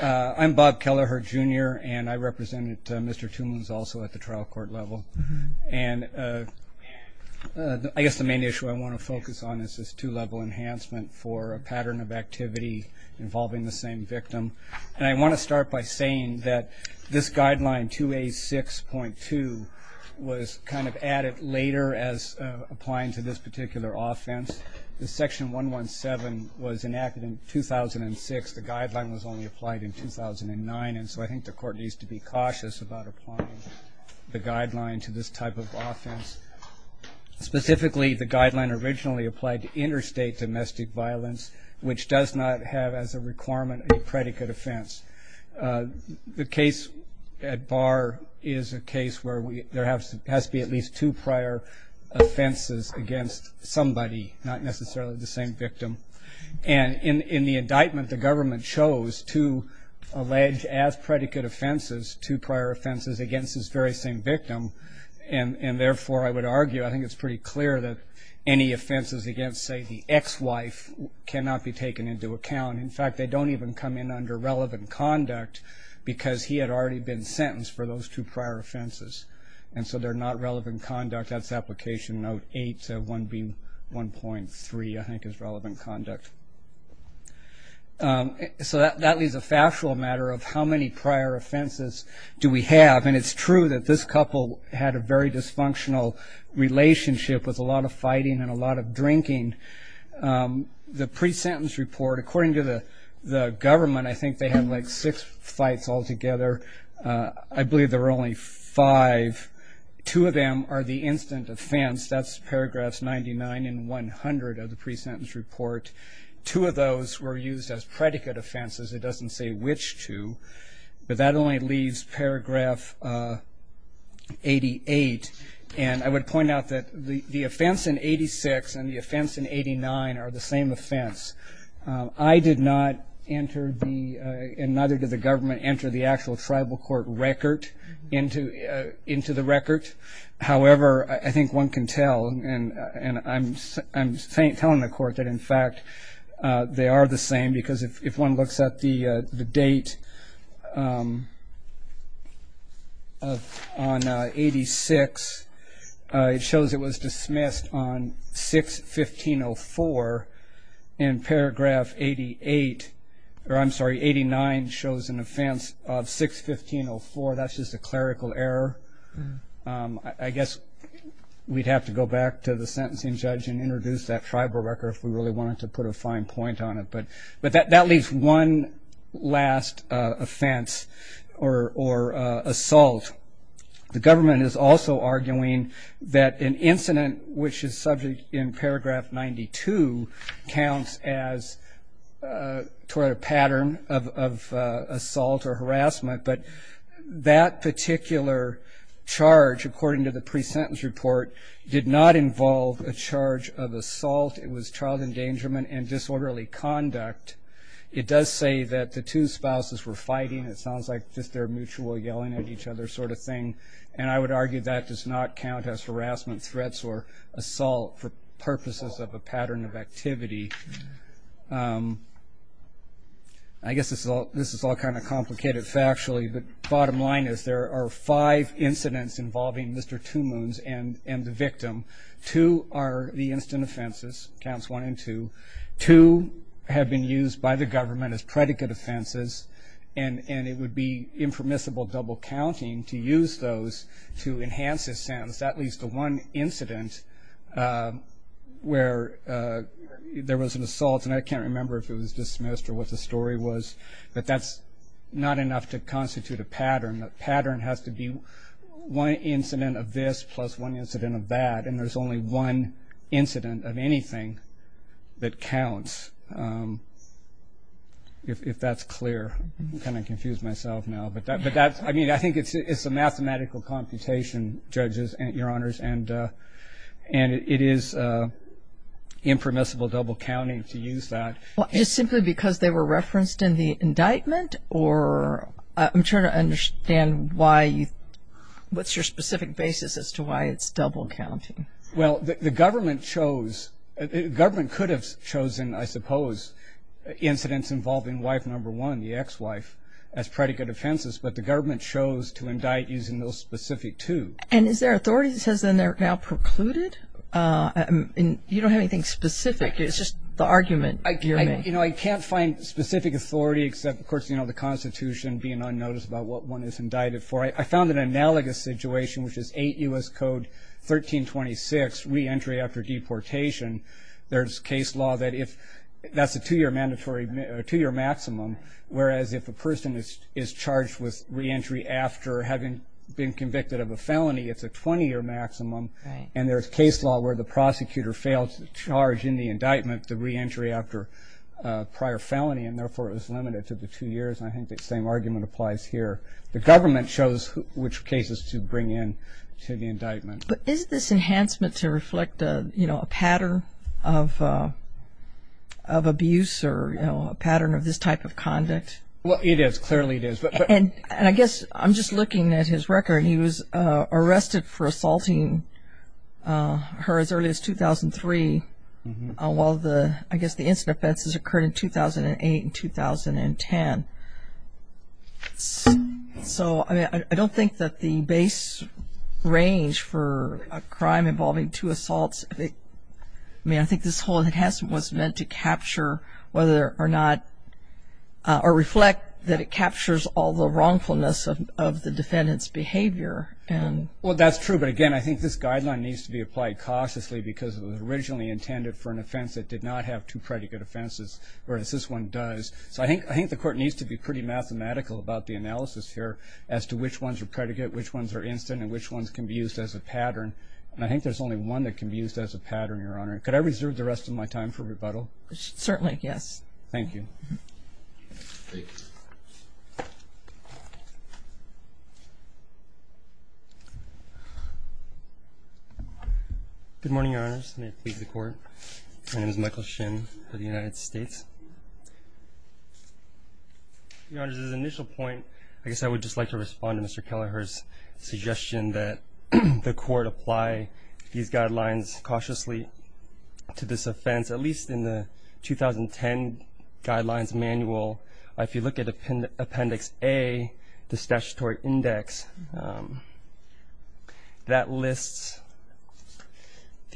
I'm Bob Kelleher Jr. and I represented Mr. Two Moons also at the trial court level. And I guess the main issue I want to focus on is this two-level enhancement for a pattern of activity involving the same victim. And I want to start by saying that this guideline 2A6.2 was kind of added later as applying to this particular offense. The section 117 was enacted in 2006. The guideline was only applied in 2009. And so I think the court needs to be cautious about applying the guideline to this type of offense. Specifically, the guideline originally applied to interstate domestic violence, which does not have as a requirement a predicate offense. The case at bar is a case where there has to be at least two prior offenses against somebody, not necessarily the same victim. And in the indictment, the government chose to allege as predicate offenses two prior offenses against this very same victim. And therefore, I would argue, I think it's pretty clear that any offenses against, say, the ex-wife cannot be taken into account. In fact, they don't even come in under relevant conduct because he had already been sentenced for those two prior offenses. And so they're not relevant conduct. That's Application Note 8, 1B1.3, I think, is relevant conduct. So that leaves a factual matter of how many prior offenses do we have. And it's true that this couple had a very dysfunctional relationship with a lot of fighting and a lot of drinking. The pre-sentence report, according to the government, I think they had, like, six fights altogether. I believe there were only five. Two of them are the instant offense. That's Paragraphs 99 and 100 of the pre-sentence report. Two of those were used as predicate offenses. It doesn't say which two. But that only leaves Paragraph 88. And I would point out that the offense in 86 and the offense in 89 are the same offense. I did not enter the, and neither did the government, enter the actual court to tell. And I'm telling the court that, in fact, they are the same. Because if one looks at the date on 86, it shows it was dismissed on 6-1504. And Paragraph 88, or I'm sorry, 89 shows an offense of 6-1504. That's just a go back to the sentencing judge and introduce that tribal record if we really wanted to put a fine point on it. But that leaves one last offense or assault. The government is also arguing that an incident which is subject in Paragraph 92 counts as toward a pattern of assault or harassment. But that particular charge, according to the pre-sentence report, did not involve a charge of assault. It was child endangerment and disorderly conduct. It does say that the two spouses were fighting. It sounds like just their mutual yelling at each other sort of thing. And I would argue that does not count as harassment, threats, or assault for purposes of a pattern of activity. I guess this is all kind of complicated factually, but bottom line is there are five incidents involving Mr. Two Moons and the victim. Two are the instant offenses, counts one and two. Two have been used by the government as predicate offenses. And it would be impermissible double counting to use those to enhance this sentence. That leads to one incident where there was an assault. And I can't remember if it was enough to constitute a pattern. The pattern has to be one incident of this plus one incident of that. And there's only one incident of anything that counts, if that's clear. I'm kind of confused myself now. But that's, I mean, I think it's a mathematical computation, judges, your honors. And it is impermissible double counting to use that. Well, just simply because they were referenced in the indictment? Or I'm trying to understand why you, what's your specific basis as to why it's double counting? Well, the government chose, the government could have chosen, I suppose, incidents involving wife number one, the ex-wife, as predicate offenses. But the government chose to indict using those specific two. And is there authority that says then they're now precluded? You don't have anything specific. It's just the argument. You know, I can't find specific authority, except, of course, you know, the Constitution being unnoticed about what one is indicted for. I found an analogous situation, which is 8 U.S. Code 1326, reentry after deportation. There's case law that if, that's a two year mandatory, two year maximum. Whereas if a person is charged with reentry after having been convicted of a felony, it's a 20 year maximum. And there's case law where the prosecutor fails the charge in the indictment, the reentry after a prior felony, and therefore it was limited to the two years. I think that same argument applies here. The government chose which cases to bring in to the indictment. But is this enhancement to reflect a, you know, a pattern of, of abuse or, you know, a pattern of this type of conduct? Well, it is. Clearly it is. And, and I guess I'm just looking at his record. He was arrested for 2003, while the, I guess the incident offenses occurred in 2008 and 2010. So, I mean, I don't think that the base range for a crime involving two assaults, I mean, I think this whole enhancement was meant to capture whether or not, or reflect that it captures all the wrongfulness of the defendant's behavior. And well, that's true. But again, I think this guideline needs to be looked at cautiously because it was originally intended for an offense that did not have two predicate offenses, whereas this one does. So I think, I think the court needs to be pretty mathematical about the analysis here as to which ones are predicate, which ones are instant, and which ones can be used as a pattern. And I think there's only one that can be used as a pattern, Your Honor. Could I reserve the rest of my time for rebuttal? Certainly, yes. Thank you. Good morning, Your Honors. May it please the court. My name is Michael Shin for the United States. Your Honors, as an initial point, I guess I would just like to respond to Mr. Kelleher's suggestion that the court apply these guidelines cautiously to this offense, at least in the 2010 Guidelines Manual. If you look at appendix A, the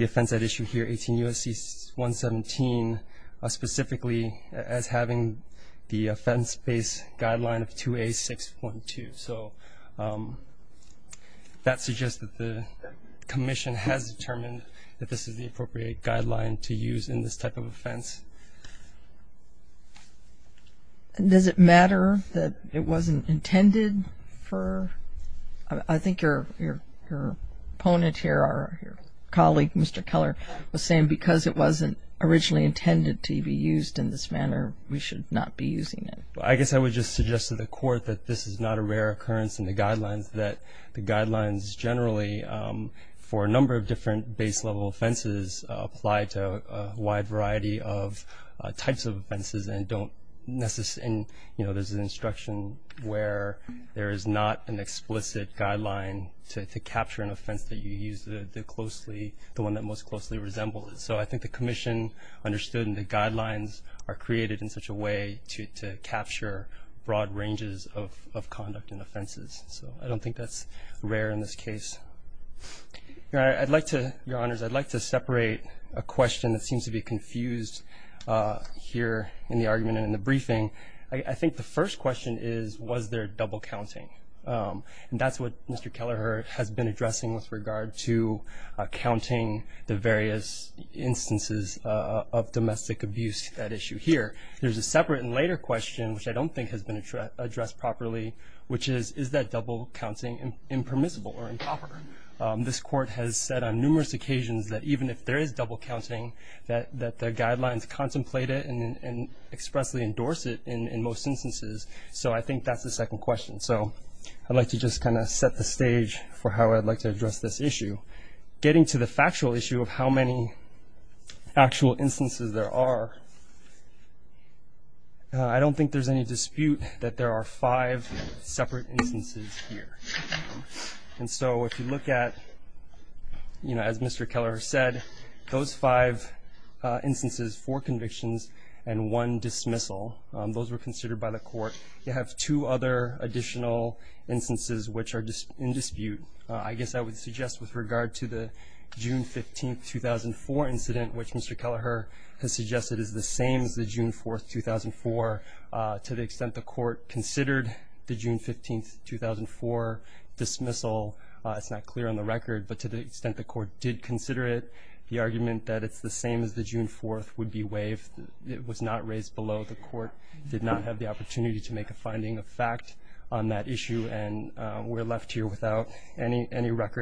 offense at issue here, 18 U.S.C. 117, specifically as having the offense-based guideline of 2A.6.2. So that suggests that the commission has determined that this is the appropriate guideline to use in this type of offense. Does it matter that it wasn't intended for, I think your opponent here, or your colleague, Mr. Kelleher, was saying, because it wasn't originally intended to be used in this manner, we should not be using it? I guess I would just suggest to the court that this is not a rare occurrence in the guidelines, that the guidelines generally, for a number of different base level offenses, apply to a wide variety of types of offenses and don't necessarily, you know, there's an instruction where there is not an explicit guideline to the one that most closely resembles it. So I think the commission understood and the guidelines are created in such a way to capture broad ranges of conduct and offenses. So I don't think that's rare in this case. I'd like to, Your Honors, I'd like to separate a question that seems to be confused here in the argument and in the briefing. I think the first question is, was there double counting? And that's what Mr. Kelleher has been addressing with regard to counting the various instances of domestic abuse, that issue here. There's a separate and later question, which I don't think has been addressed properly, which is, is that double counting impermissible or improper? This court has said on numerous occasions that even if there is double counting, that the guidelines contemplate it and expressly endorse it in most instances. So I think that's the second question. So I'd like to just kind of set the stage for how I'd like to address this issue. Getting to the factual issue of how many actual instances there are, I don't think there's any dispute that there are five separate instances here. And so if you look at, you know, as Mr. Kelleher said, those five instances, four convictions and one dismissal, those were considered by the court. You have two other additional instances which are in dispute. I guess I would suggest with regard to the June 15th, 2004 incident, which Mr. Kelleher has suggested is the same as the June 4th, 2004, to the extent the court considered the June 15th, 2004 dismissal, it's not clear on the record, but to the extent the court did consider it, the argument that it's the same as the June 4th would be waived. It was not raised below. The court did not have the any record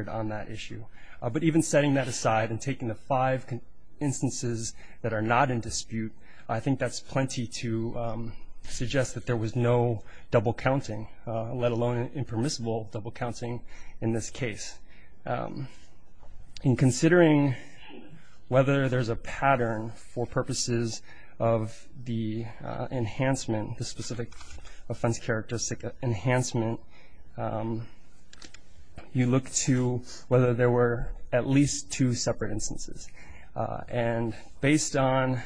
on that issue. But even setting that aside and taking the five instances that are not in dispute, I think that's plenty to suggest that there was no double counting, let alone impermissible double counting in this case. In considering whether there's a pattern for purposes of the enhancement, the specific offense characteristic enhancement, you look to whether there were at least two separate instances. And based on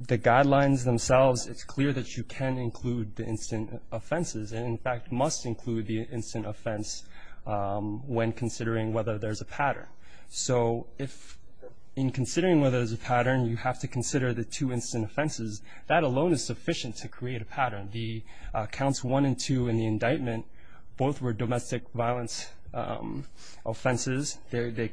the guidelines themselves, it's clear that you can include the instant offenses and in fact must include the instant offense when considering whether there's a pattern. So if in considering whether there's a pattern, you have to consider the two instant offenses, that alone is sufficient to create a pattern. Counts one and two in the indictment, both were domestic violence offenses. They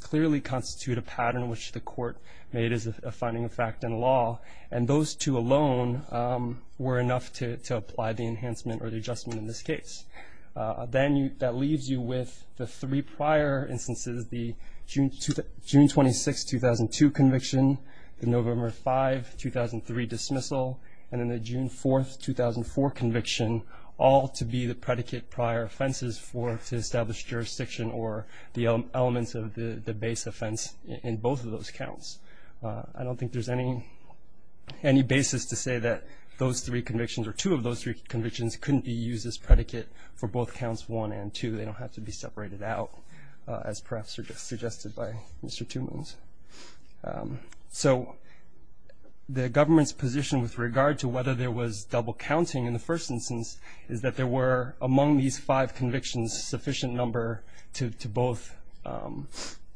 clearly constitute a pattern which the court made as a finding of fact in law. And those two alone were enough to apply the enhancement or the adjustment in this case. Then that leaves you with the three prior instances, the June 26, 2002 conviction, the November 5, 2003 dismissal, and then the June 4, 2004 conviction, all to be the predicate prior offenses for to establish jurisdiction or the elements of the base offense in both of those counts. I don't think there's any basis to say that those three convictions or two of those three convictions couldn't be used as predicate for both counts one and two. They don't have to be separated out as perhaps suggested by Mr. Two Moons. So the government's position with regard to whether there was double counting in the first instance is that there were among these five convictions sufficient number to both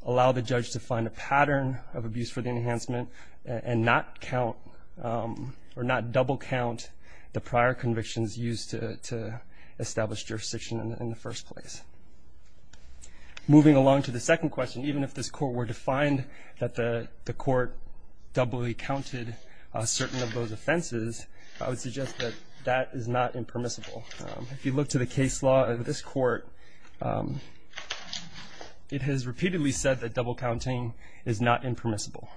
allow the judge to find a pattern of abuse for the enhancement and not count or not double count the prior convictions used to establish jurisdiction in the first place. Moving along to the second question, even if this court were to find that the court doubly counted certain of those offenses, I would suggest that that is not impermissible. If you look to the case law of this court, it has repeatedly said that double counting is not impermissible.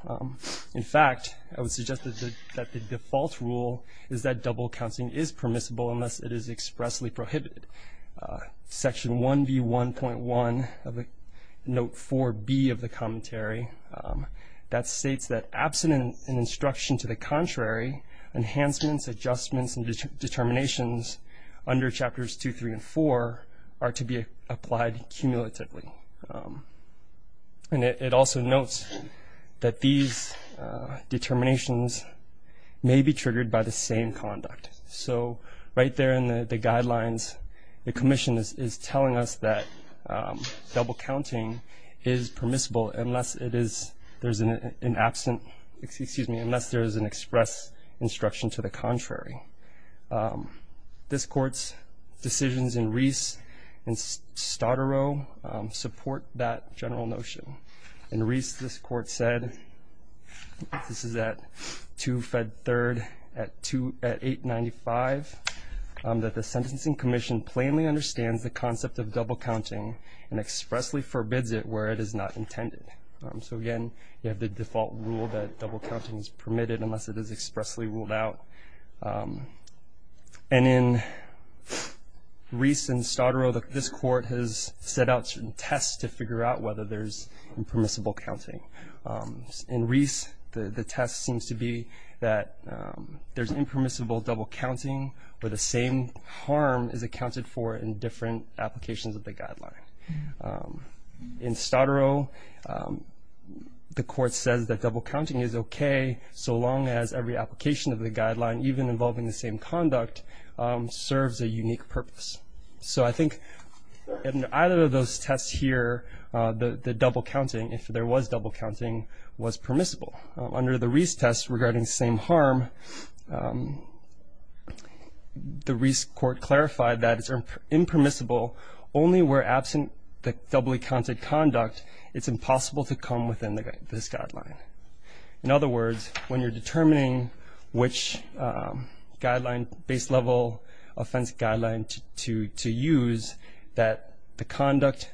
In fact, I would suggest that the default rule is that double counting is not permissible unless it is expressly prohibited. Section 1B1.1 of note 4B of the commentary that states that absent an instruction to the contrary, enhancements, adjustments and determinations under chapters two, three and four are to be applied cumulatively. And it also notes that these determinations may be right there in the guidelines. The commission is telling us that double counting is permissible unless it is, there's an absent, excuse me, unless there is an express instruction to the contrary. This court's decisions in Reese and Staudterow support that general notion. In Reese, this court said, this is at 2 that the sentencing commission plainly understands the concept of double counting and expressly forbids it where it is not intended. So again, you have the default rule that double counting is permitted unless it is expressly ruled out. And in Reese and Staudterow, this court has set out certain tests to figure out whether there's impermissible counting. In Reese, the test seems to be that there's impermissible double counting where the same harm is accounted for in different applications of the guideline. In Staudterow, the court says that double counting is okay so long as every application of the guideline, even involving the same conduct, serves a unique purpose. So I think in either of those tests here, the double counting, if there was double counting, was some harm, the Reese court clarified that it's impermissible only where absent the doubly counted conduct, it's impossible to come within this guideline. In other words, when you're determining which guideline, base level offense guideline to use, that the conduct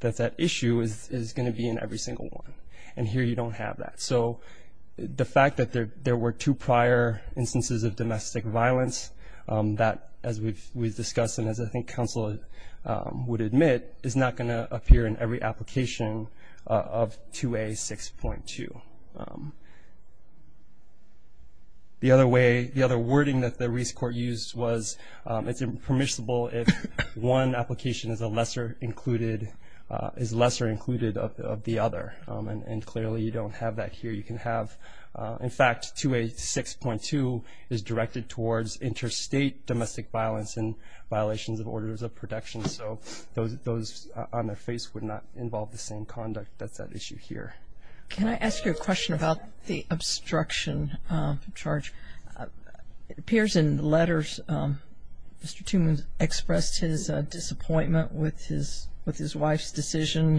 that's at issue is going to be in every single one. And here you don't have that. So the fact that there were two prior instances of domestic violence, that as we've discussed and as I think counsel would admit, is not going to appear in every application of 2A.6.2. The other wording that the Reese court used was it's impermissible if one application is lesser included of the other. And clearly you don't have that here. You can have, in fact, 2A.6.2 is directed towards interstate domestic violence and violations of orders of protection. So those on their face would not involve the same conduct that's at issue here. Can I ask you a question about the obstruction charge? It appears in the letters Mr. Toomans expressed his disappointment with his wife's decision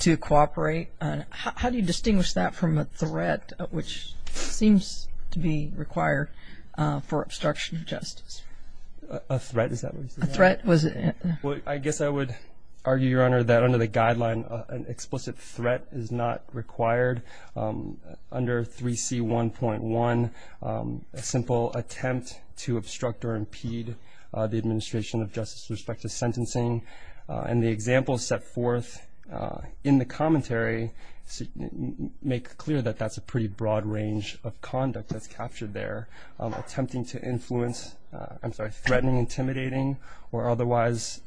to cooperate. How do you distinguish that from a threat which seems to be required for obstruction of justice? A threat, is that what you said? A threat, was it? Well, I guess I would argue, Your Honor, that under the guideline an explicit threat is not required. Under 3C.1.1, a simple attempt to obstruct or impede the example set forth in the commentary make clear that that's a pretty broad range of conduct that's captured there. Attempting to influence, I'm sorry, threatening, intimidating or otherwise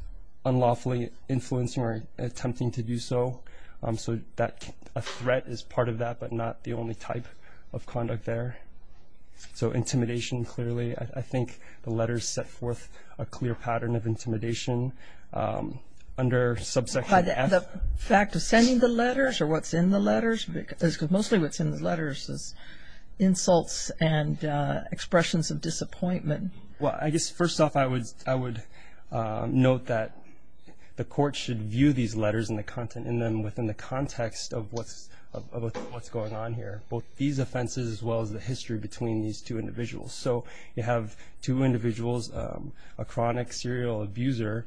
unlawfully influencing or attempting to do so. So that a threat is part of that but not the only type of conduct there. So intimidation clearly, I think the letters set forth a clear pattern of subsection F. The fact of sending the letters or what's in the letters, because mostly what's in the letters is insults and expressions of disappointment. Well, I guess first off I would note that the court should view these letters and the content in them within the context of what's going on here. Both these offenses as well as the history between these two individuals. So you have two individuals, a chronic serial abuser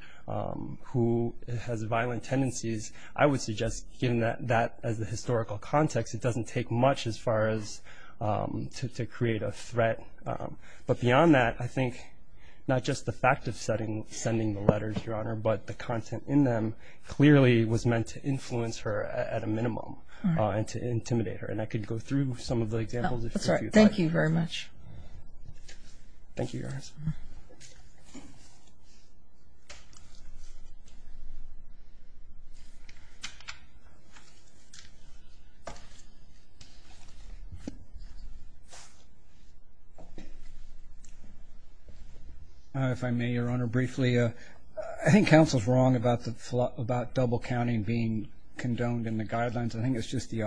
who has violent tendencies. I would suggest given that as the historical context, it doesn't take much as far as to create a threat. But beyond that, I think not just the fact of sending the letters, Your Honor, but the content in them clearly was meant to influence her at a minimum and to intimidate her. And I could go through some of the examples. Thank you very much. Thank you, Your Honor. If I may, Your Honor, briefly, I think counsel's wrong about the thought about double-counting being condoned in the guidelines. I think it's just the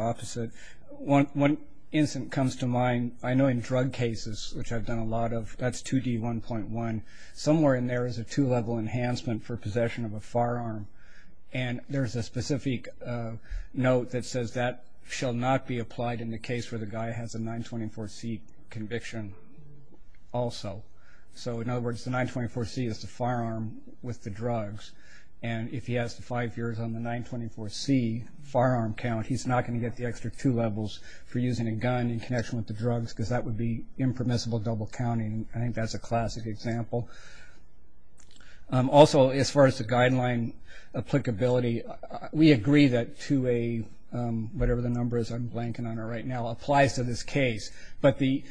which I've done a lot of. That's 2D1.1. Somewhere in there is a two-level enhancement for possession of a firearm. And there's a specific note that says that shall not be applied in the case where the guy has a 924C conviction also. So in other words, the 924C is the firearm with the drugs. And if he has five years on the 924C firearm count, he's not going to get the extra two levels for using a gun in connection with the drugs, because that would be impermissible double-counting. I think that's a classic example. Also, as far as the guideline applicability, we agree that 2A, whatever the number is, I'm blanking on it right now, applies to this case. But the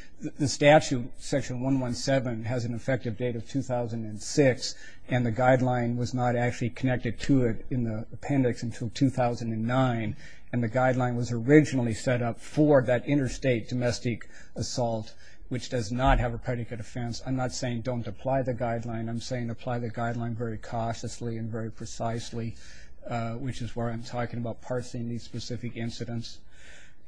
statute, section 117, has an effective date of 2006, and the guideline was not actually connected to it in the appendix until 2009. And the guideline was originally set up for that interstate domestic assault, which does not have a predicate offense. I'm not saying don't apply the guideline. I'm saying apply the guideline very cautiously and very precisely, which is where I'm talking about parsing these specific incidents.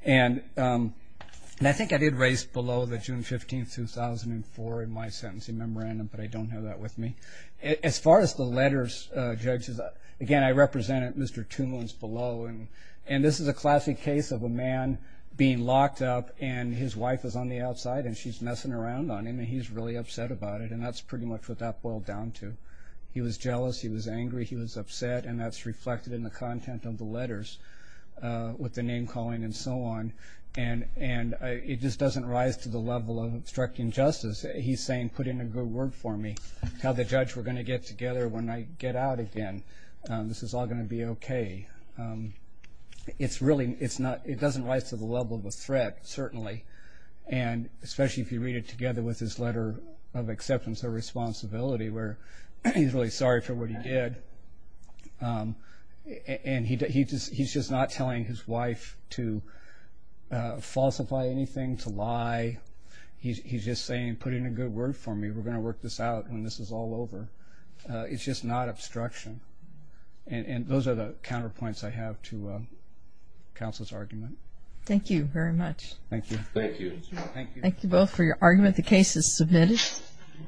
And I think I did raise below the June 15, 2004 in my sentencing memorandum, but I don't have that with me. As far as the letters, judges, again, I represented Mr. Tumlin's below. And this is a classic case of a man being locked up, and his wife is on the outside, and she's messing around on him, and he's really upset about it. And that's pretty much what that boiled down to. He was jealous. He was angry. He was upset. And that's reflected in the content of the letters with the name-calling and so on. And it just doesn't rise to the level of obstructing justice. He's saying, put in a good word for me. Tell the judge we're going to get together when I get out again. This is all going to be okay. It doesn't rise to the level of a threat, certainly. And especially if you read it together with his letter of acceptance of responsibility, where he's really sorry for what he did. And he's just not telling his wife to falsify anything, to lie. He's just saying, put in a good word for me. We're going to work this out when this is all over. It's just not obstruction. And those are the counterpoints I have to counsel's argument. Thank you very much. Thank you. Thank you. Thank you both for your argument. The case is submitted.